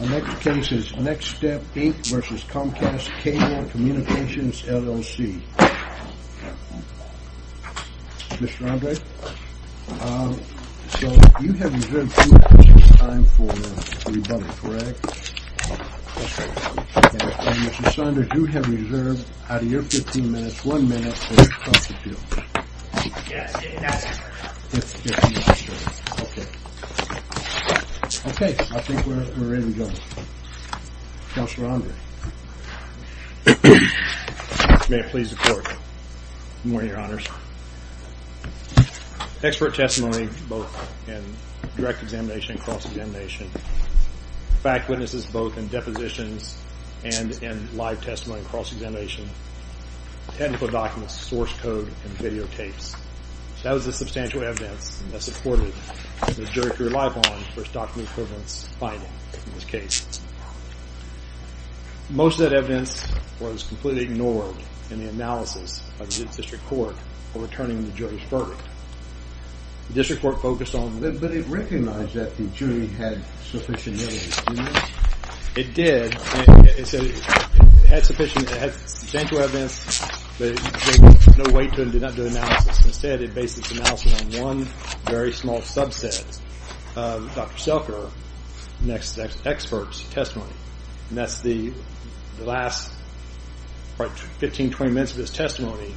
Mr. Saunders, you have reserved, out of your 15 minutes, 1 minute for the trust to deal. Okay, I think we're ready to go. Mr. Saunders, may I please report? Good morning, Your Honors. Expert testimony, both in direct examination and cross-examination, fact witnesses both in depositions and in live testimony and cross-examination, technical documents, source code, and videotapes. That was the substantial evidence that supported the jury to rely upon for stocking equivalence finding in this case. Most of that evidence was completely ignored in the analysis of the district court for returning the jury's verdict. The district court focused on... But it recognized that the jury had sufficient evidence, didn't it? It did. It had substantial evidence, but it gave no weight to it and did not do analysis. Instead, it based its analysis on one very small subset of Dr. Selker, NexStep's expert testimony. And that's the last 15, 20 minutes of his testimony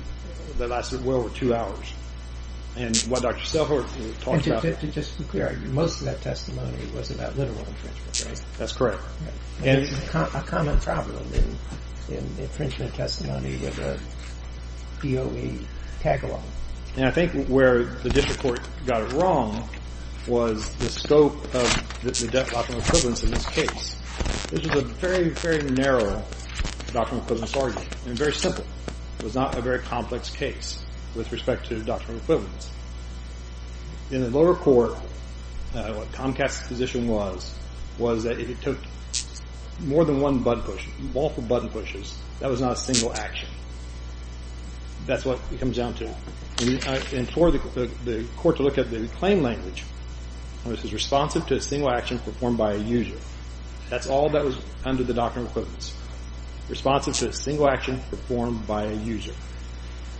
that lasted well over 2 hours. And what Dr. Selker talked about... Just to be clear, most of that testimony was about literal infringement, right? That's correct. It's a common problem in infringement testimony with a DOE tag-along. And I think where the district court got it wrong was the scope of the doctrinal equivalence in this case. This is a very, very narrow doctrinal equivalence argument and very simple. It was not a very complex case with respect to doctrinal equivalence. In the lower court, what Comcast's position was, was that it took more than one button push, multiple button pushes. That was not a single action. That's what it comes down to. And for the court to look at the claim language, it was responsive to a single action performed by a user. That's all that was under the doctrinal equivalence. Responsive to a single action performed by a user.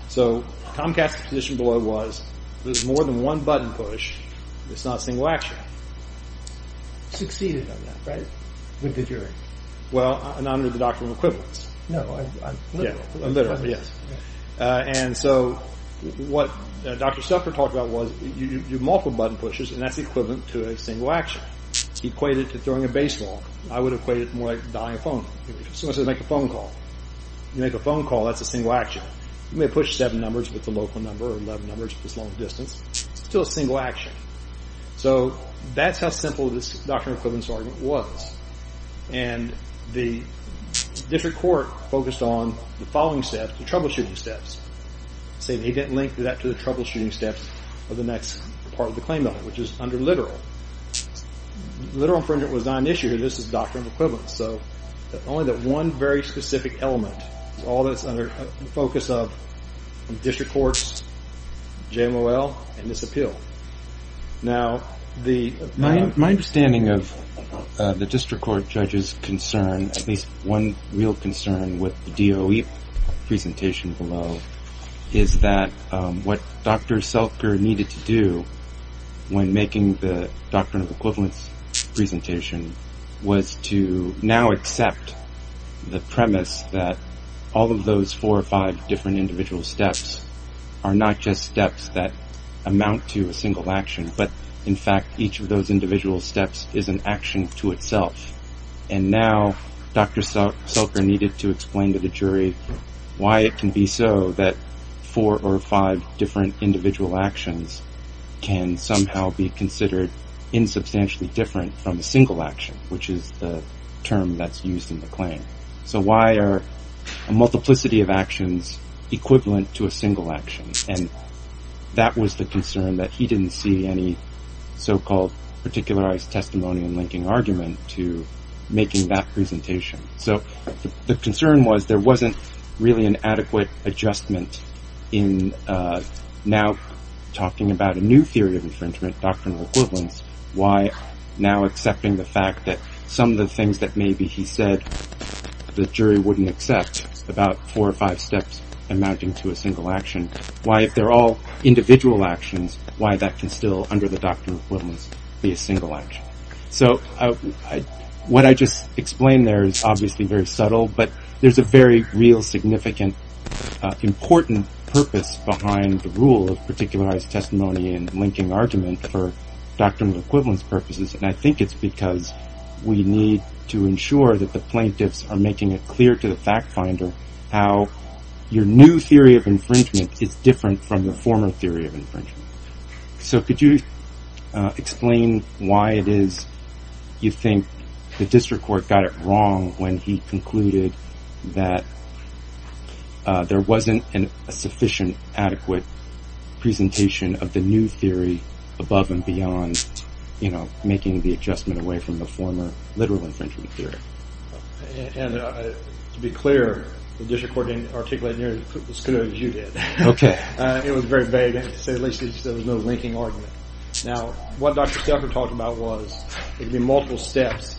So Comcast's position below was there's more than one button push. It's not a single action. Succeeded on that, right? With the jury. Well, not under the doctrinal equivalence. No, literally. Literally, yes. And so what Dr. Selker talked about was you do multiple button pushes, and that's equivalent to a single action. Equated to throwing a baseball. I would equate it more like dialing a phone. Someone says make a phone call. You make a phone call, that's a single action. You may push seven numbers, but it's a local number, or 11 numbers, but it's long distance. It's still a single action. So that's how simple this doctrinal equivalence argument was. And the district court focused on the following steps, the troubleshooting steps. He didn't link that to the troubleshooting steps of the next part of the claim, which is under literal. Literal infringement was not an issue here. This is doctrinal equivalence. So only that one very specific element is all that's under the focus of district courts, JMOL, and this appeal. Now, my understanding of the district court judge's concern, at least one real concern with the DOE presentation below, is that what Dr. Selker needed to do when making the doctrinal equivalence presentation was to now accept the premise that all of those four or five different individual steps are not just steps that amount to a single action, but, in fact, each of those individual steps is an action to itself. And now Dr. Selker needed to explain to the jury why it can be so that four or five different individual actions can somehow be considered insubstantially different from a single action, which is the term that's used in the claim. So why are a multiplicity of actions equivalent to a single action? And that was the concern, that he didn't see any so-called particularized testimony in linking argument to making that presentation. So the concern was there wasn't really an adequate adjustment in now talking about a new theory of infringement, doctrinal equivalence, why now accepting the fact that some of the things that maybe he said the jury wouldn't accept, about four or five steps amounting to a single action, why if they're all individual actions, why that can still, under the doctrinal equivalence, be a single action. So what I just explained there is obviously very subtle, but there's a very real, significant, important purpose behind the rule of particularized testimony and linking argument for doctrinal equivalence purposes. And I think it's because we need to ensure that the plaintiffs are making it clear to the fact finder how your new theory of infringement is different from the former theory of infringement. So could you explain why it is you think the district court got it wrong when he concluded that there wasn't a sufficient, adequate presentation of the new theory above and beyond, you know, making the adjustment away from the former literal infringement theory? And to be clear, the district court didn't articulate nearly as clearly as you did. Okay. It was very vague. At least he said there was no linking argument. Now, what Dr. Steffler talked about was it would be multiple steps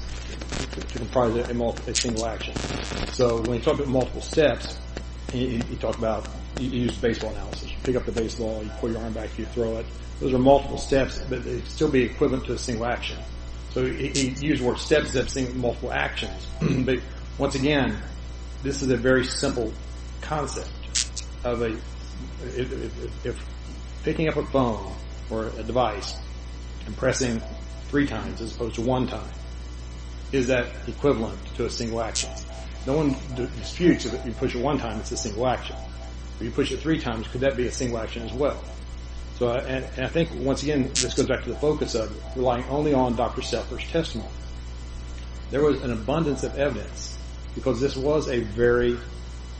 to comprise a single action. So when he talked about multiple steps, he talked about, he used baseball analysis. You pick up the baseball, you pull your arm back, you throw it. Those are multiple steps, but they'd still be equivalent to a single action. So he used the word steps instead of multiple actions. But, once again, this is a very simple concept. If picking up a phone or a device and pressing three times as opposed to one time, is that equivalent to a single action? No one disputes if you push it one time, it's a single action. If you push it three times, could that be a single action as well? And I think, once again, this goes back to the focus of relying only on Dr. Steffler's testimony. There was an abundance of evidence because this was a very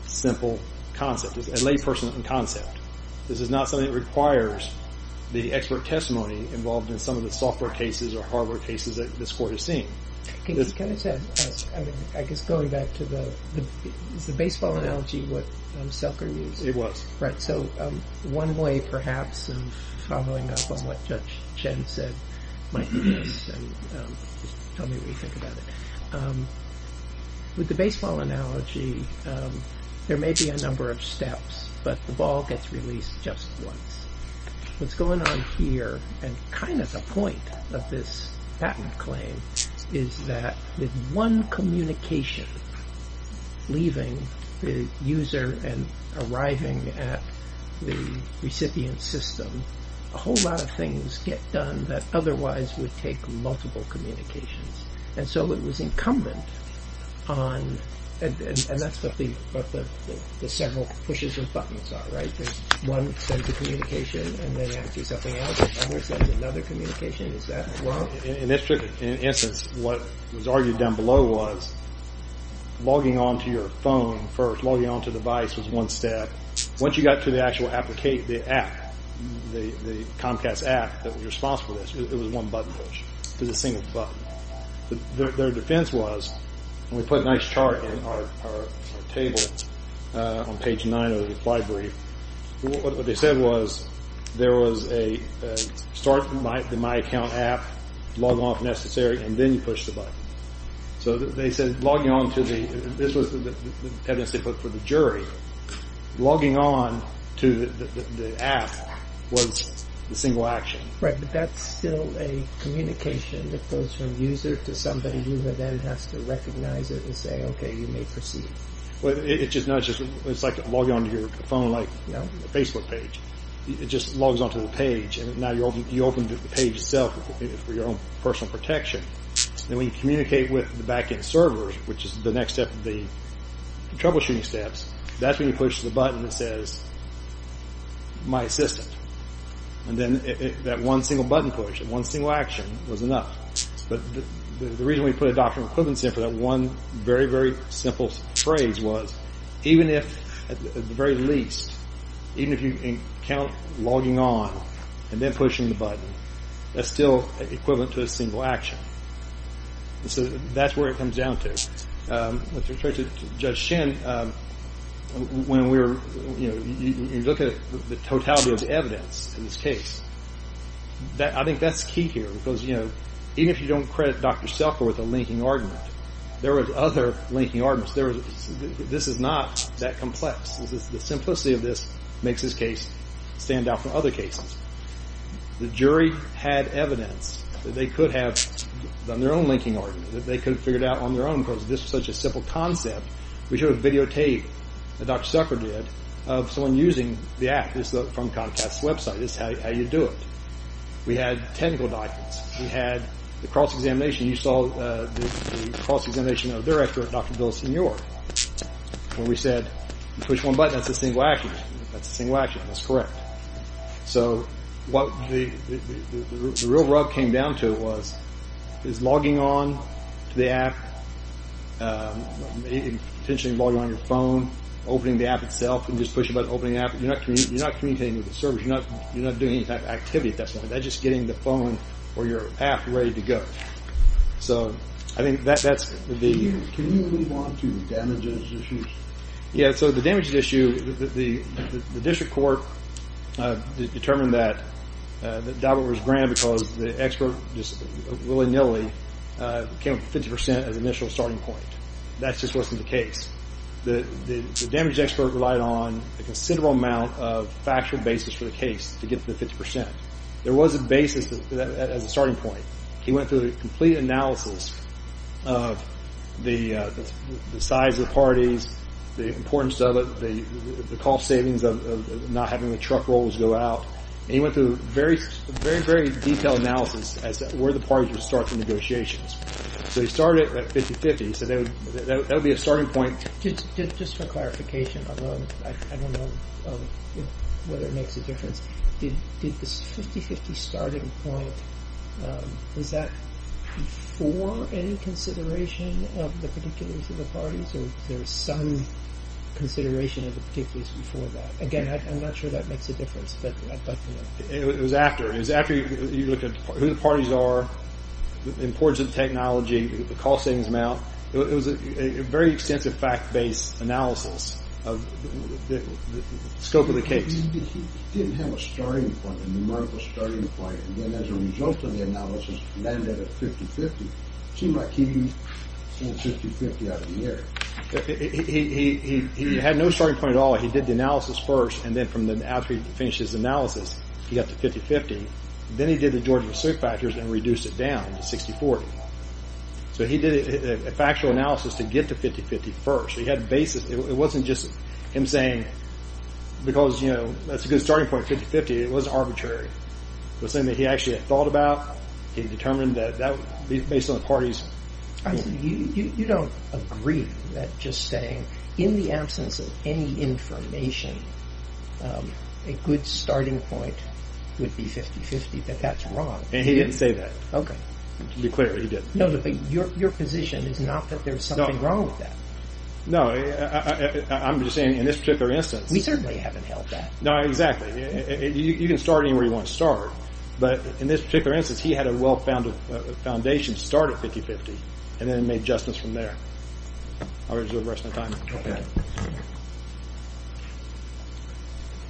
simple concept, a layperson concept. This is not something that requires the expert testimony involved in some of the software cases or hardware cases that this court has seen. Can I just add, I guess going back to the, is the baseball analogy what Selker used? It was. Right, so one way perhaps of following up on what Judge Chen said might be this, and tell me what you think about it. With the baseball analogy, there may be a number of steps, but the ball gets released just once. What's going on here, and kind of the point of this patent claim, is that with one communication, leaving the user and arriving at the recipient system, a whole lot of things get done that otherwise would take multiple communications. And so it was incumbent on, and that's what the several pushes and buttons are, right? One sends a communication and they answer something else, another sends another communication, is that wrong? In this instance, what was argued down below was logging on to your phone first, logging on to the device was one step. Once you got to the actual application, the app, the Comcast app that was responsible for this, it was one button push. It was a single button. Their defense was, and we put a nice chart in our table on page 9 of the reply brief. What they said was, there was a start the My Account app, log on if necessary, and then you push the button. So they said logging on to the, this was the evidence they put for the jury. Logging on to the app was the single action. Right, but that's still a communication that goes from user to somebody who then has to recognize it and say, okay, you may proceed. It's like logging on to your phone like a Facebook page. It just logs on to the page, and now you open the page itself for your own personal protection. Then we communicate with the back-end servers, which is the next step of the troubleshooting steps. That's when you push the button that says, my assistant. And then that one single button push, that one single action was enough. But the reason we put a doctrine of equivalence in for that one very, very simple phrase was, even if at the very least, even if you count logging on and then pushing the button, that's still equivalent to a single action. So that's where it comes down to. With respect to Judge Shin, when we were, you know, you look at the totality of the evidence in this case, I think that's key here because, you know, even if you don't credit Dr. Zucker with a linking argument, there was other linking arguments. This is not that complex. The simplicity of this makes this case stand out from other cases. The jury had evidence that they could have done their own linking argument, that they could have figured out on their own because this was such a simple concept. We should have videotaped, as Dr. Zucker did, of someone using the app. This is from Comcast's website. This is how you do it. We had technical documents. We had the cross-examination. You saw the cross-examination of the director, Dr. Villasenor. When we said, you push one button, that's a single action. That's a single action. That's correct. So what the real rub came down to was, is logging on to the app, potentially logging on your phone, opening the app itself, and just pushing the button, opening the app. You're not communicating with the servers. You're not doing any type of activity at that point. That's just getting the phone or your app ready to go. Can you move on to damages issues? Yeah. So the damages issue, the district court determined that DABA was granted because the expert just willy-nilly came up with 50% as the initial starting point. That just wasn't the case. The damages expert relied on a considerable amount of factual basis for the case to get the 50%. There was a basis as a starting point. He went through a complete analysis of the size of the parties, the importance of it, the cost savings of not having the truck rolls go out, and he went through a very, very detailed analysis as to where the parties would start the negotiations. So he started at 50-50. So that would be a starting point. Just for clarification, although I don't know whether it makes a difference, did the 50-50 starting point, was that before any consideration of the particulars of the parties, or was there some consideration of the particulars before that? Again, I'm not sure that makes a difference, but I'd like to know. It was after. It was after you looked at who the parties are, the importance of technology, the cost savings amount. It was a very extensive fact-based analysis of the scope of the case. He didn't have a starting point, a numerical starting point, and then as a result of the analysis landed at 50-50. It seemed like he had 50-50 out of the air. He had no starting point at all. He did the analysis first, and then after he finished his analysis, he got to 50-50. Then he did the Georgia suit factors and reduced it down to 60-40. So he did a factual analysis to get to 50-50 first. He had basis. It wasn't just him saying because, you know, that's a good starting point, 50-50. It wasn't arbitrary. It was something that he actually had thought about. He determined that that would be based on the parties. You don't agree that just saying in the absence of any information a good starting point would be 50-50, that that's wrong. And he didn't say that. Okay. To be clear, he didn't. No, but your position is not that there's something wrong with that. No, I'm just saying in this particular instance. We certainly haven't held that. No, exactly. You can start anywhere you want to start, but in this particular instance he had a well-founded foundation to start at 50-50, and then made justice from there. I'll reserve the rest of my time. Okay.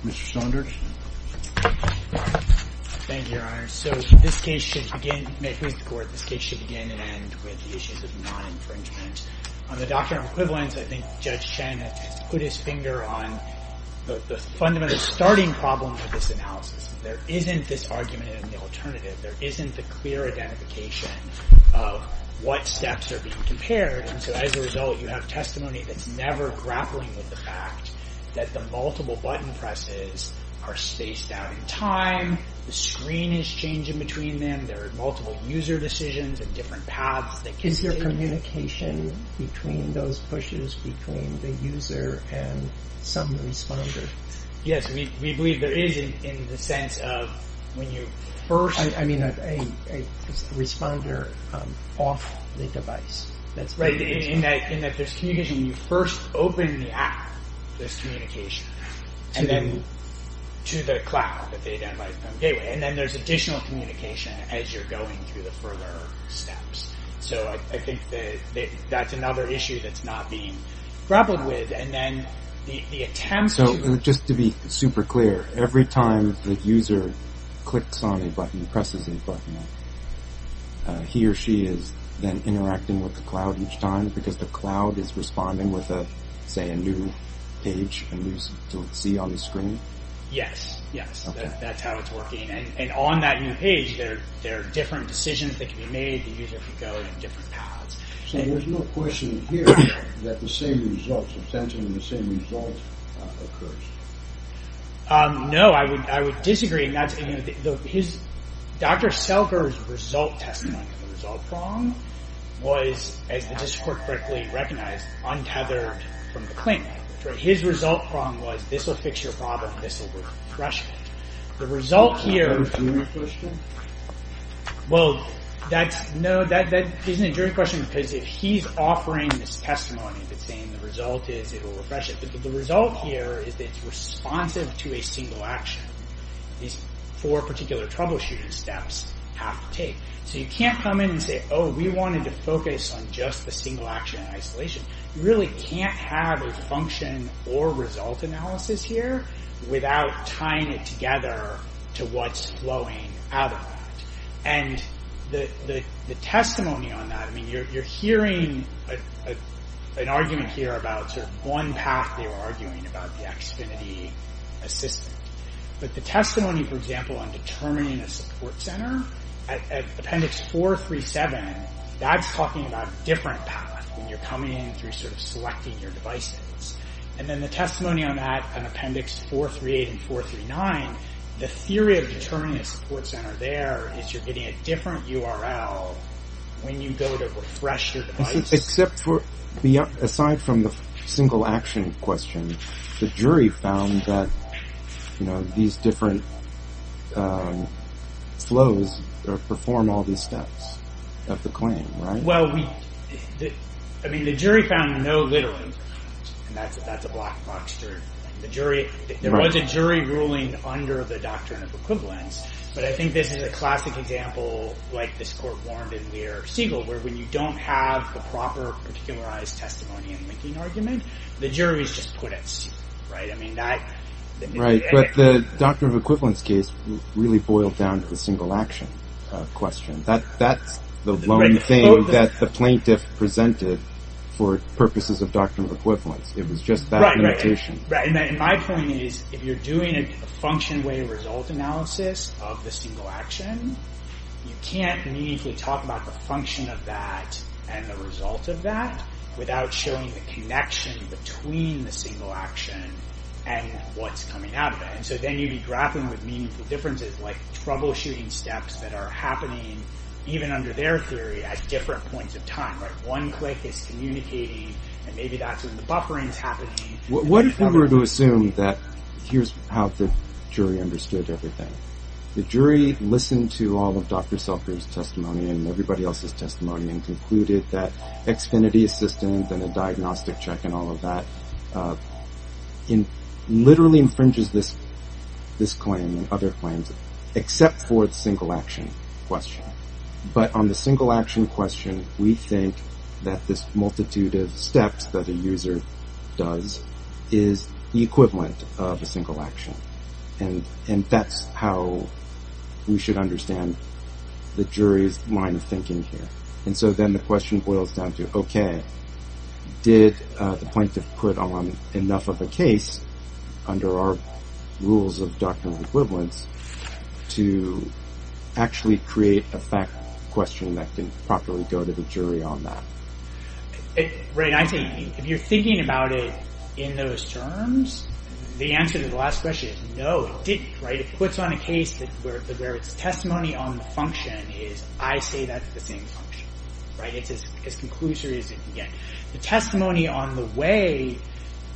Mr. Sondrage. Thank you, Your Honor. So this case should begin, may it please the Court, this case should begin and end with the issues of non-infringement. On the doctrine of equivalence, I think Judge Shen has put his finger on the fundamental starting problem of this analysis. There isn't this argument in the alternative. There isn't the clear identification of what steps are being compared. So as a result, you have testimony that's never grappling with the fact that the multiple button presses are spaced out in time, the screen is changing between them, there are multiple user decisions and different paths that can take place. Is there communication between those pushes, between the user and some responder? Yes, we believe there is in the sense of when you first... I mean a responder off the device. That's right. In that there's communication when you first open the app, there's communication. And then to the cloud, the data on the gateway. And then there's additional communication as you're going through the further steps. So I think that's another issue that's not being grappled with. And then the attempts to... So just to be super clear, every time the user clicks on a button, presses a button, he or she is then interacting with the cloud each time because the cloud is responding with, say, a new page to see on the screen? Yes, yes. That's how it's working. And on that new page, there are different decisions that can be made. The user can go in different paths. So there's no question here that the same results, essentially the same result occurs. No, I would disagree. Dr. Selger's result testimony, the result prong, was, as the district court correctly recognized, untethered from the claimant. His result prong was, this will fix your problem, this will refresh it. The result here... Is that a jury question? Well, no, that isn't a jury question because if he's offering this testimony, if it's saying the result is it will refresh it. But the result here is that it's responsive to a single action. These four particular troubleshooting steps have to take. So you can't come in and say, oh, we wanted to focus on just the single action in isolation. You really can't have a function or result analysis here without tying it together to what's flowing out of that. And the testimony on that, I mean, you're hearing an argument here about sort of one path they were arguing about, the Xfinity assistant. But the testimony, for example, on determining a support center, at appendix 437, that's talking about a different path when you're coming in through sort of selecting your devices. And then the testimony on that, on appendix 438 and 439, the theory of determining a support center there is you're getting a different URL when you go to refresh your device. Except for, aside from the single action question, the jury found that, you know, these different flows perform all these steps of the claim, right? Well, I mean, the jury found no literally. And that's a black box jury. There was a jury ruling under the doctrine of equivalence. But I think this is a classic example, like this court warned in Lear of Siegel, where when you don't have the proper particularized testimony and linking argument, the jury's just put at sea, right? I mean, that... Right, but the doctrine of equivalence case really boiled down to the single action question. That's the lone thing that the plaintiff presented for purposes of doctrine of equivalence. It was just that limitation. Right, and my point is, if you're doing a function-way result analysis of the single action, you can't meaningfully talk about the function of that and the result of that without showing the connection between the single action and what's coming out of it. And so then you'd be grappling with meaningful differences, like troubleshooting steps that are happening, even under their theory, at different points of time, right? One click is communicating, and maybe that's when the buffering's happening. What if we were to assume that... Here's how the jury understood everything. The jury listened to all of Dr Selker's testimony and everybody else's testimony and concluded that Xfinity assistance and a diagnostic check and all of that literally infringes this claim and other claims, except for the single action question. But on the single action question, we think that this multitude of steps that a user does is the equivalent of a single action. And that's how we should understand the jury's line of thinking here. And so then the question boils down to, okay, did the plaintiff put on enough of a case under our rules of doctrinal equivalence to actually create a fact question that can properly go to the jury on that? Right, I think if you're thinking about it in those terms, the answer to the last question is no, it didn't. It puts on a case where it's testimony on the function is I say that's the same function. It's as conclusive as it can get. The testimony on the way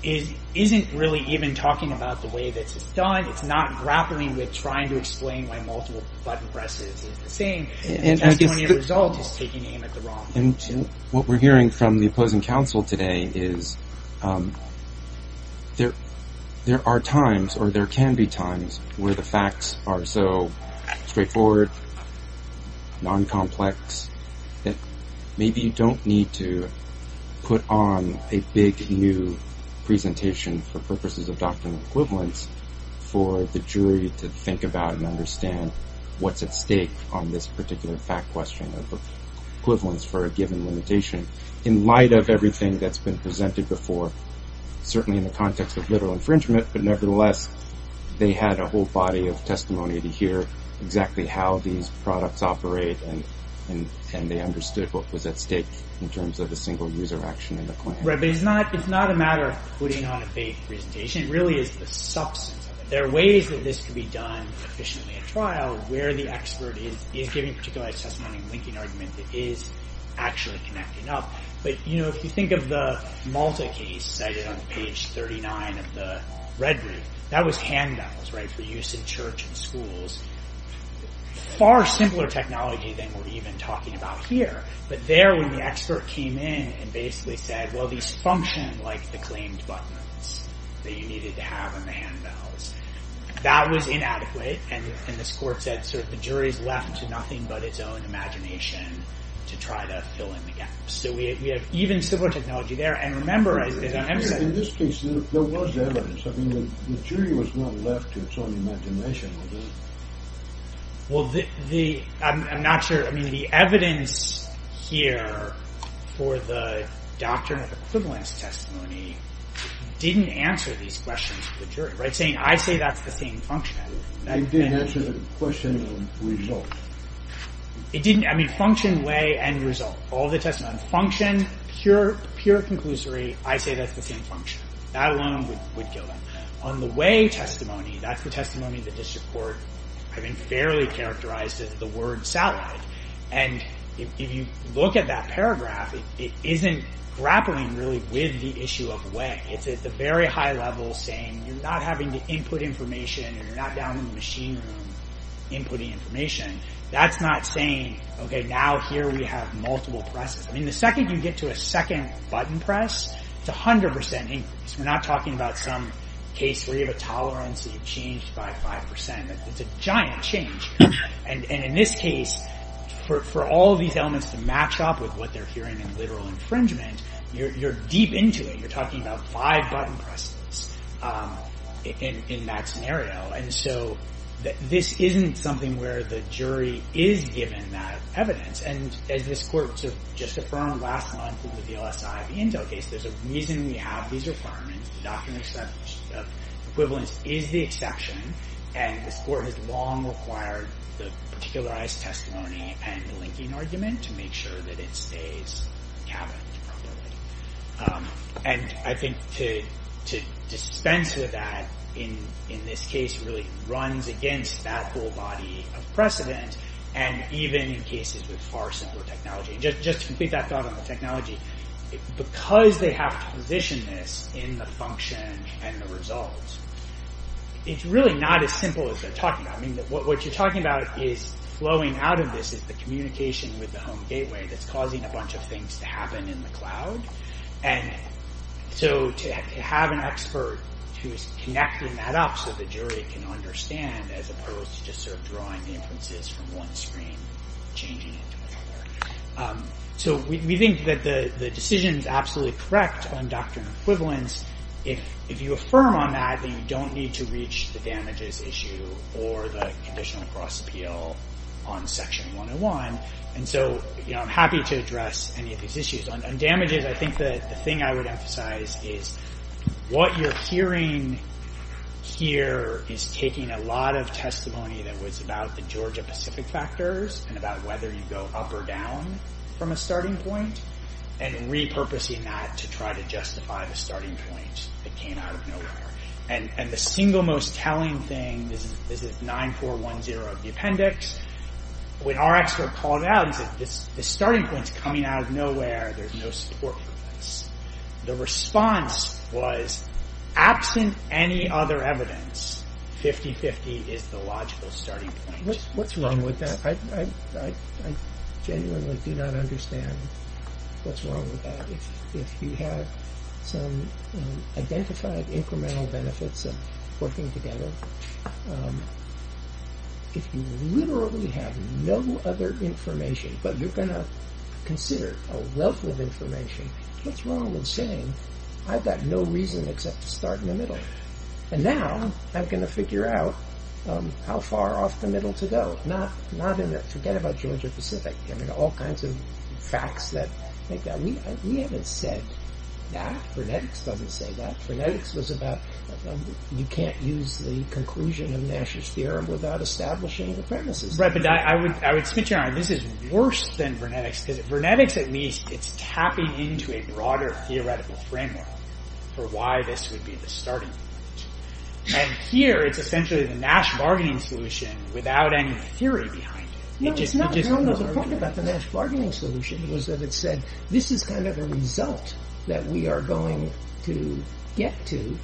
isn't really even talking about the way this is done. It's not grappling with trying to explain why multiple button presses is the same. The testimony of the result is taking aim at the wrong thing. And what we're hearing from the opposing counsel today is there are times or there can be times where the facts are so straightforward, non-complex, that maybe you don't need to put on a big new presentation for purposes of doctrinal equivalence for the jury to think about and understand what's at stake on this particular fact question of equivalence for a given limitation. In light of everything that's been presented before, certainly in the context of literal infringement, but nevertheless, they had a whole body of testimony to hear exactly how these products operate and they understood what was at stake in terms of the single user action in the claim. Right, but it's not a matter of putting on a big presentation. It really is the substance of it. There are ways that this can be done efficiently at trial where the expert is giving a particularized testimony and linking argument that is actually connecting up. But, you know, if you think of the Malta case cited on page 39 of the red group, that was handbells, right, for use in church and schools. Far simpler technology than we're even talking about here. But there, when the expert came in and basically said, well, these function like the claimed buttons that you needed to have on the handbells. That was inadequate, and this court said, the jury's left to nothing but its own imagination to try to fill in the gaps. So we have even simpler technology there. And remember, as I said... In this case, there was evidence. I mean, the jury was not left to its own imagination. Well, I'm not sure. I mean, the evidence here for the doctrine of equivalence testimony didn't answer these questions for the jury. I say that's the same function. It didn't answer the question of result. It didn't. I mean, function, way, and result. All the testimony. Function, pure conclusory. I say that's the same function. That alone would kill them. On the way testimony, that's the testimony the district court having fairly characterized as the word satellite. And if you look at that paragraph, it isn't grappling really with the issue of way. It's at the very high level saying you're not having to input information or you're not downloading the machine room inputting information. That's not saying, okay, now here we have multiple presses. I mean, the second you get to a second button press, it's 100% increased. We're not talking about some case where you have a tolerance that you've changed by 5%. It's a giant change. And in this case, for all of these elements to match up with what they're hearing in literal infringement, you're deep into it. You're talking about five button presses in that scenario. And so this isn't something where the jury is given that evidence. And as this court just affirmed last month over the LSI of the Intel case, there's a reason we have these requirements. The doctrine of equivalence is the exception. And this court has long required the particularized testimony and the linking argument to make sure that it stays cabinet. And I think to dispense with that in this case really runs against that whole body of precedent, and even in cases with far simpler technology. Just to complete that thought on the technology, because they have to position this in the function and the results, it's really not as simple as they're talking about. What you're talking about is flowing out of this is the communication with the home gateway that's causing a bunch of things to happen in the cloud. And so to have an expert who is connecting that up so the jury can understand, as opposed to just sort of drawing the inferences from one screen and changing it to another. So we think that the decision is absolutely correct on doctrine of equivalence. If you affirm on that, then you don't need to reach the damages issue or the conditional cross-appeal on Section 101. And so I'm happy to address any of these issues. On damages, I think the thing I would emphasize is what you're hearing here is taking a lot of testimony that was about the Georgia-Pacific factors and about whether you go up or down from a starting point, and repurposing that to try to justify the starting point that came out of nowhere. And the single most telling thing, this is 9410 of the appendix, when our expert called out and said, this starting point's coming out of nowhere, there's no support for this. The response was, absent any other evidence, 50-50 is the logical starting point. What's wrong with that? I genuinely do not understand what's wrong with that. If you have some identified incremental benefits of working together, if you literally have no other information, but you're going to consider a wealth of information, what's wrong with saying, I've got no reason except to start in the middle. And now I'm going to figure out how far off the middle to go. Forget about Georgia-Pacific. I mean, all kinds of facts. We haven't said that. Phrenetics doesn't say that. Phrenetics was about, you can't use the conclusion of Nash's theorem without establishing the premises. Right, but I would switch around. This is worse than Phrenetics. Phrenetics, at least, it's tapping into a broader theoretical framework for why this would be the starting point. And here, it's essentially the Nash bargaining solution without any theory behind it. No, it's not. The point about the Nash bargaining solution was that it said, this is kind of a result that we are going to get to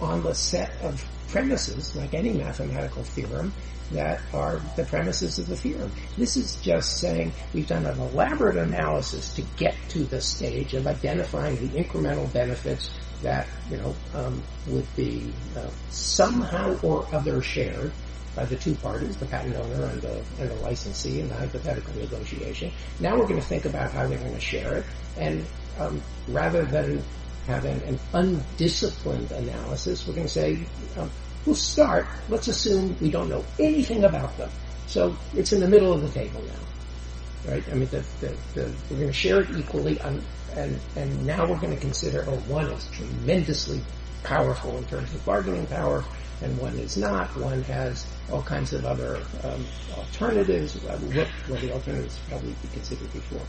on the set of premises, like any mathematical theorem, that are the premises of the theorem. This is just saying, we've done an elaborate analysis to get to the stage of identifying the incremental benefits that would be somehow or other shared by the two parties, the patent owner and the licensee in the hypothetical negotiation. Now we're going to think about how they're going to share it. And rather than having an undisciplined analysis, we're going to say, we'll start, let's assume we don't know anything about them. So it's in the middle of the table now. Right, I mean, we're going to share it equally and now we're going to consider one is tremendously powerful in terms of bargaining power and one is not. One has all kinds of other alternatives. What were the alternatives that we considered before?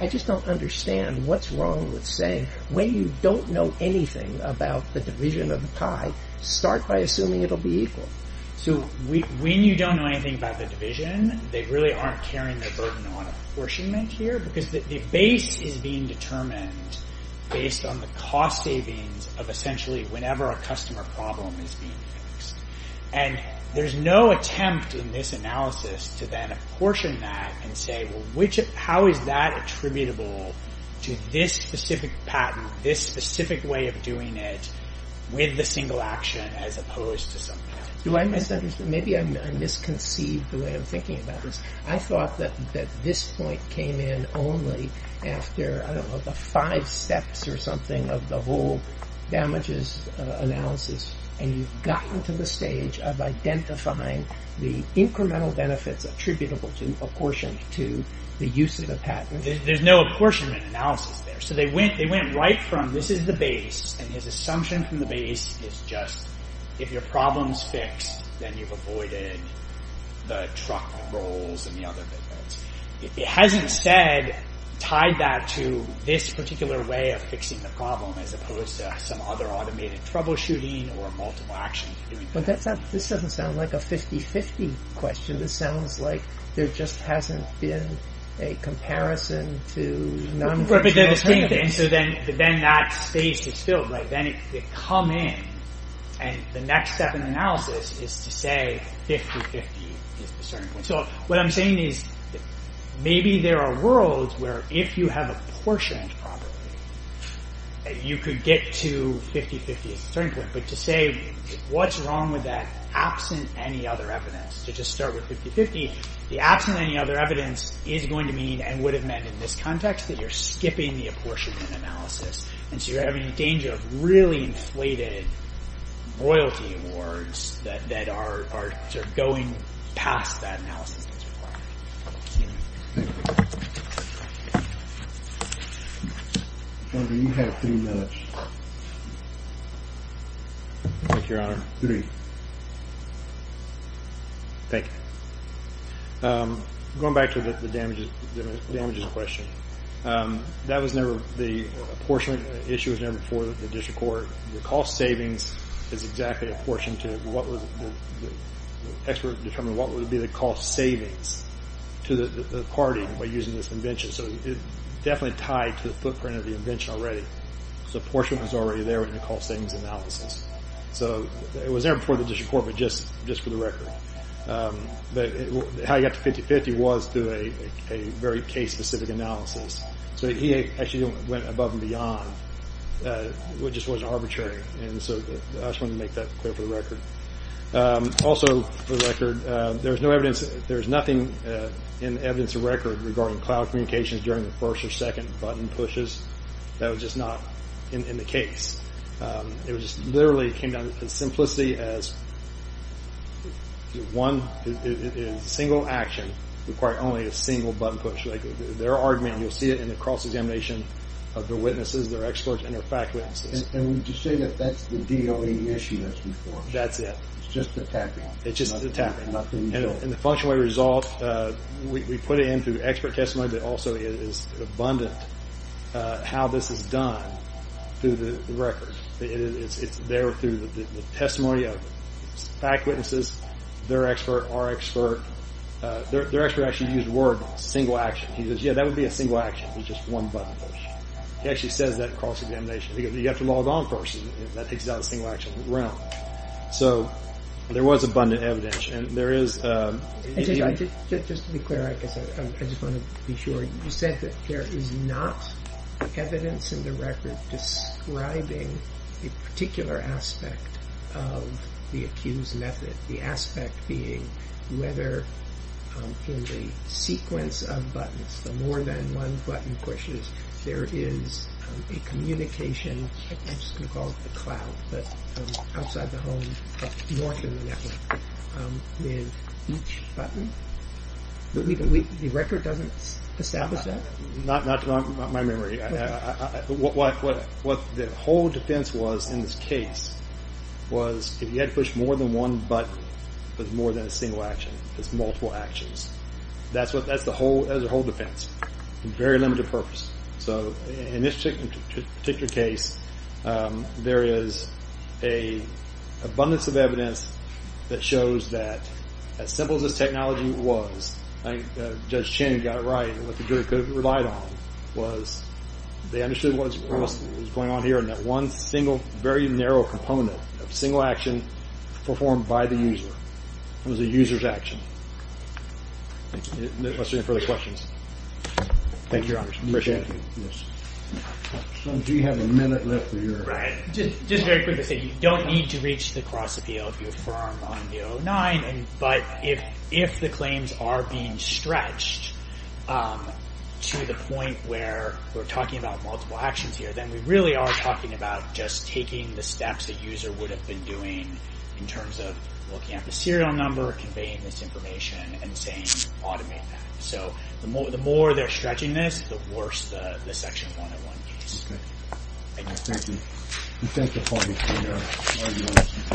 I just don't understand what's wrong with saying when you don't know anything about the division of the pie, start by assuming it'll be equal. So when you don't know anything about the division, they really aren't carrying their burden on apportionment here because the base is being determined based on the cost savings of essentially whenever a customer problem is being fixed. And there's no attempt in this analysis to then apportion that and say how is that attributable to this specific patent, this specific way of doing it with the single action as opposed to some patent. Do I misunderstand? Maybe I misconceived the way I'm thinking about this. I thought that this point came in only after, I don't know, the five steps or something of the whole damages analysis and you've gotten to the stage of identifying the incremental benefits attributable to apportionment to the use of the patent. There's no apportionment analysis there. So they went right from this is the base and his assumption from the base is just if your problem's fixed then you've avoided the truck rolls and the other benefits. It hasn't said, tied that to this particular way of fixing the problem as opposed to some other automated troubleshooting or multiple actions. This doesn't sound like a 50-50 question. This sounds like there just hasn't been a comparison to... But then that space is filled. Then it could come in and the next step in the analysis is to say 50-50 is the starting point. So what I'm saying is maybe there are worlds where if you have apportioned properly you could get to 50-50 is the starting point but to say what's wrong with that absent any other evidence to just start with 50-50 the absent any other evidence is going to mean and would have meant in this context that you're skipping the apportionment analysis and so you're having a danger of really inflated royalty awards that are going past that analysis as required. Thank you. Barbara, you have three minutes. Thank you, Your Honor. Three. Thank you. Going back to the damages question. That was never... The apportionment issue was never before the district court. The cost savings is exactly apportioned to what was... The expert determined what would be the cost savings to the party by using this invention. So it's definitely tied to the footprint of the invention already. So apportionment was already there in the cost savings analysis. So it was never before the district court but just for the record. How you got to 50-50 was through a very case-specific analysis. So he actually went above and beyond which just wasn't arbitrary. And so I just wanted to make that clear for the record. Also for the record, there's no evidence... There's nothing in the evidence of record regarding cloud communications during the first or second button pushes that was just not in the case. It just literally came down as simplicity as one... A single action required only a single button push. Their argument, you'll see it in the cross-examination of their witnesses, their experts, and their fact witnesses. And would you say that that's the DOE issue that's been formed? That's it. It's just the tapping. It's just the tapping. And the functionally resolved... We put it in through expert testimony but also it is abundant how this is done through the record. It's there through the testimony of fact witnesses, their expert, our expert. Their expert actually used the word single action. He says, yeah, that would be a single action with just one button push. He actually says that in cross-examination. You have to log on first and that takes it out of the single action realm. So there was abundant evidence. And there is... Just to be clear, I just want to be sure. You said that there is not evidence in the record describing a particular aspect of the accused method. The aspect being whether in the sequence of buttons, the more than one button pushes, there is a communication, I'm just going to call it the cloud, but outside the home, north of the network, with each button? The record doesn't establish that? Not to my memory. What the whole defense was in this case was if you had to push more than one button with more than a single action, it's multiple actions. That's the whole defense. Very limited purpose. So in this particular case, there is an abundance of evidence that shows that as simple as this technology was, Judge Chin got it right, what the jury could have relied on was they understood what was going on here and that one single, very narrow component of single action performed by the user was a user's action. Unless there are any further questions. Thank you, Your Honor. Appreciate it. Yes. Do you have a minute left? Right. Just very quickly, you don't need to reach the cross appeal of your firm on the 09, but if the claims are being stretched to the point where we're talking about multiple actions here, then we really are talking about just taking the steps the user would have been doing in terms of looking at the serial number, conveying this information, and saying automate that. So the more they're stretching this, the worse the Section 101 case. Okay. Thank you. Thank you for your argument.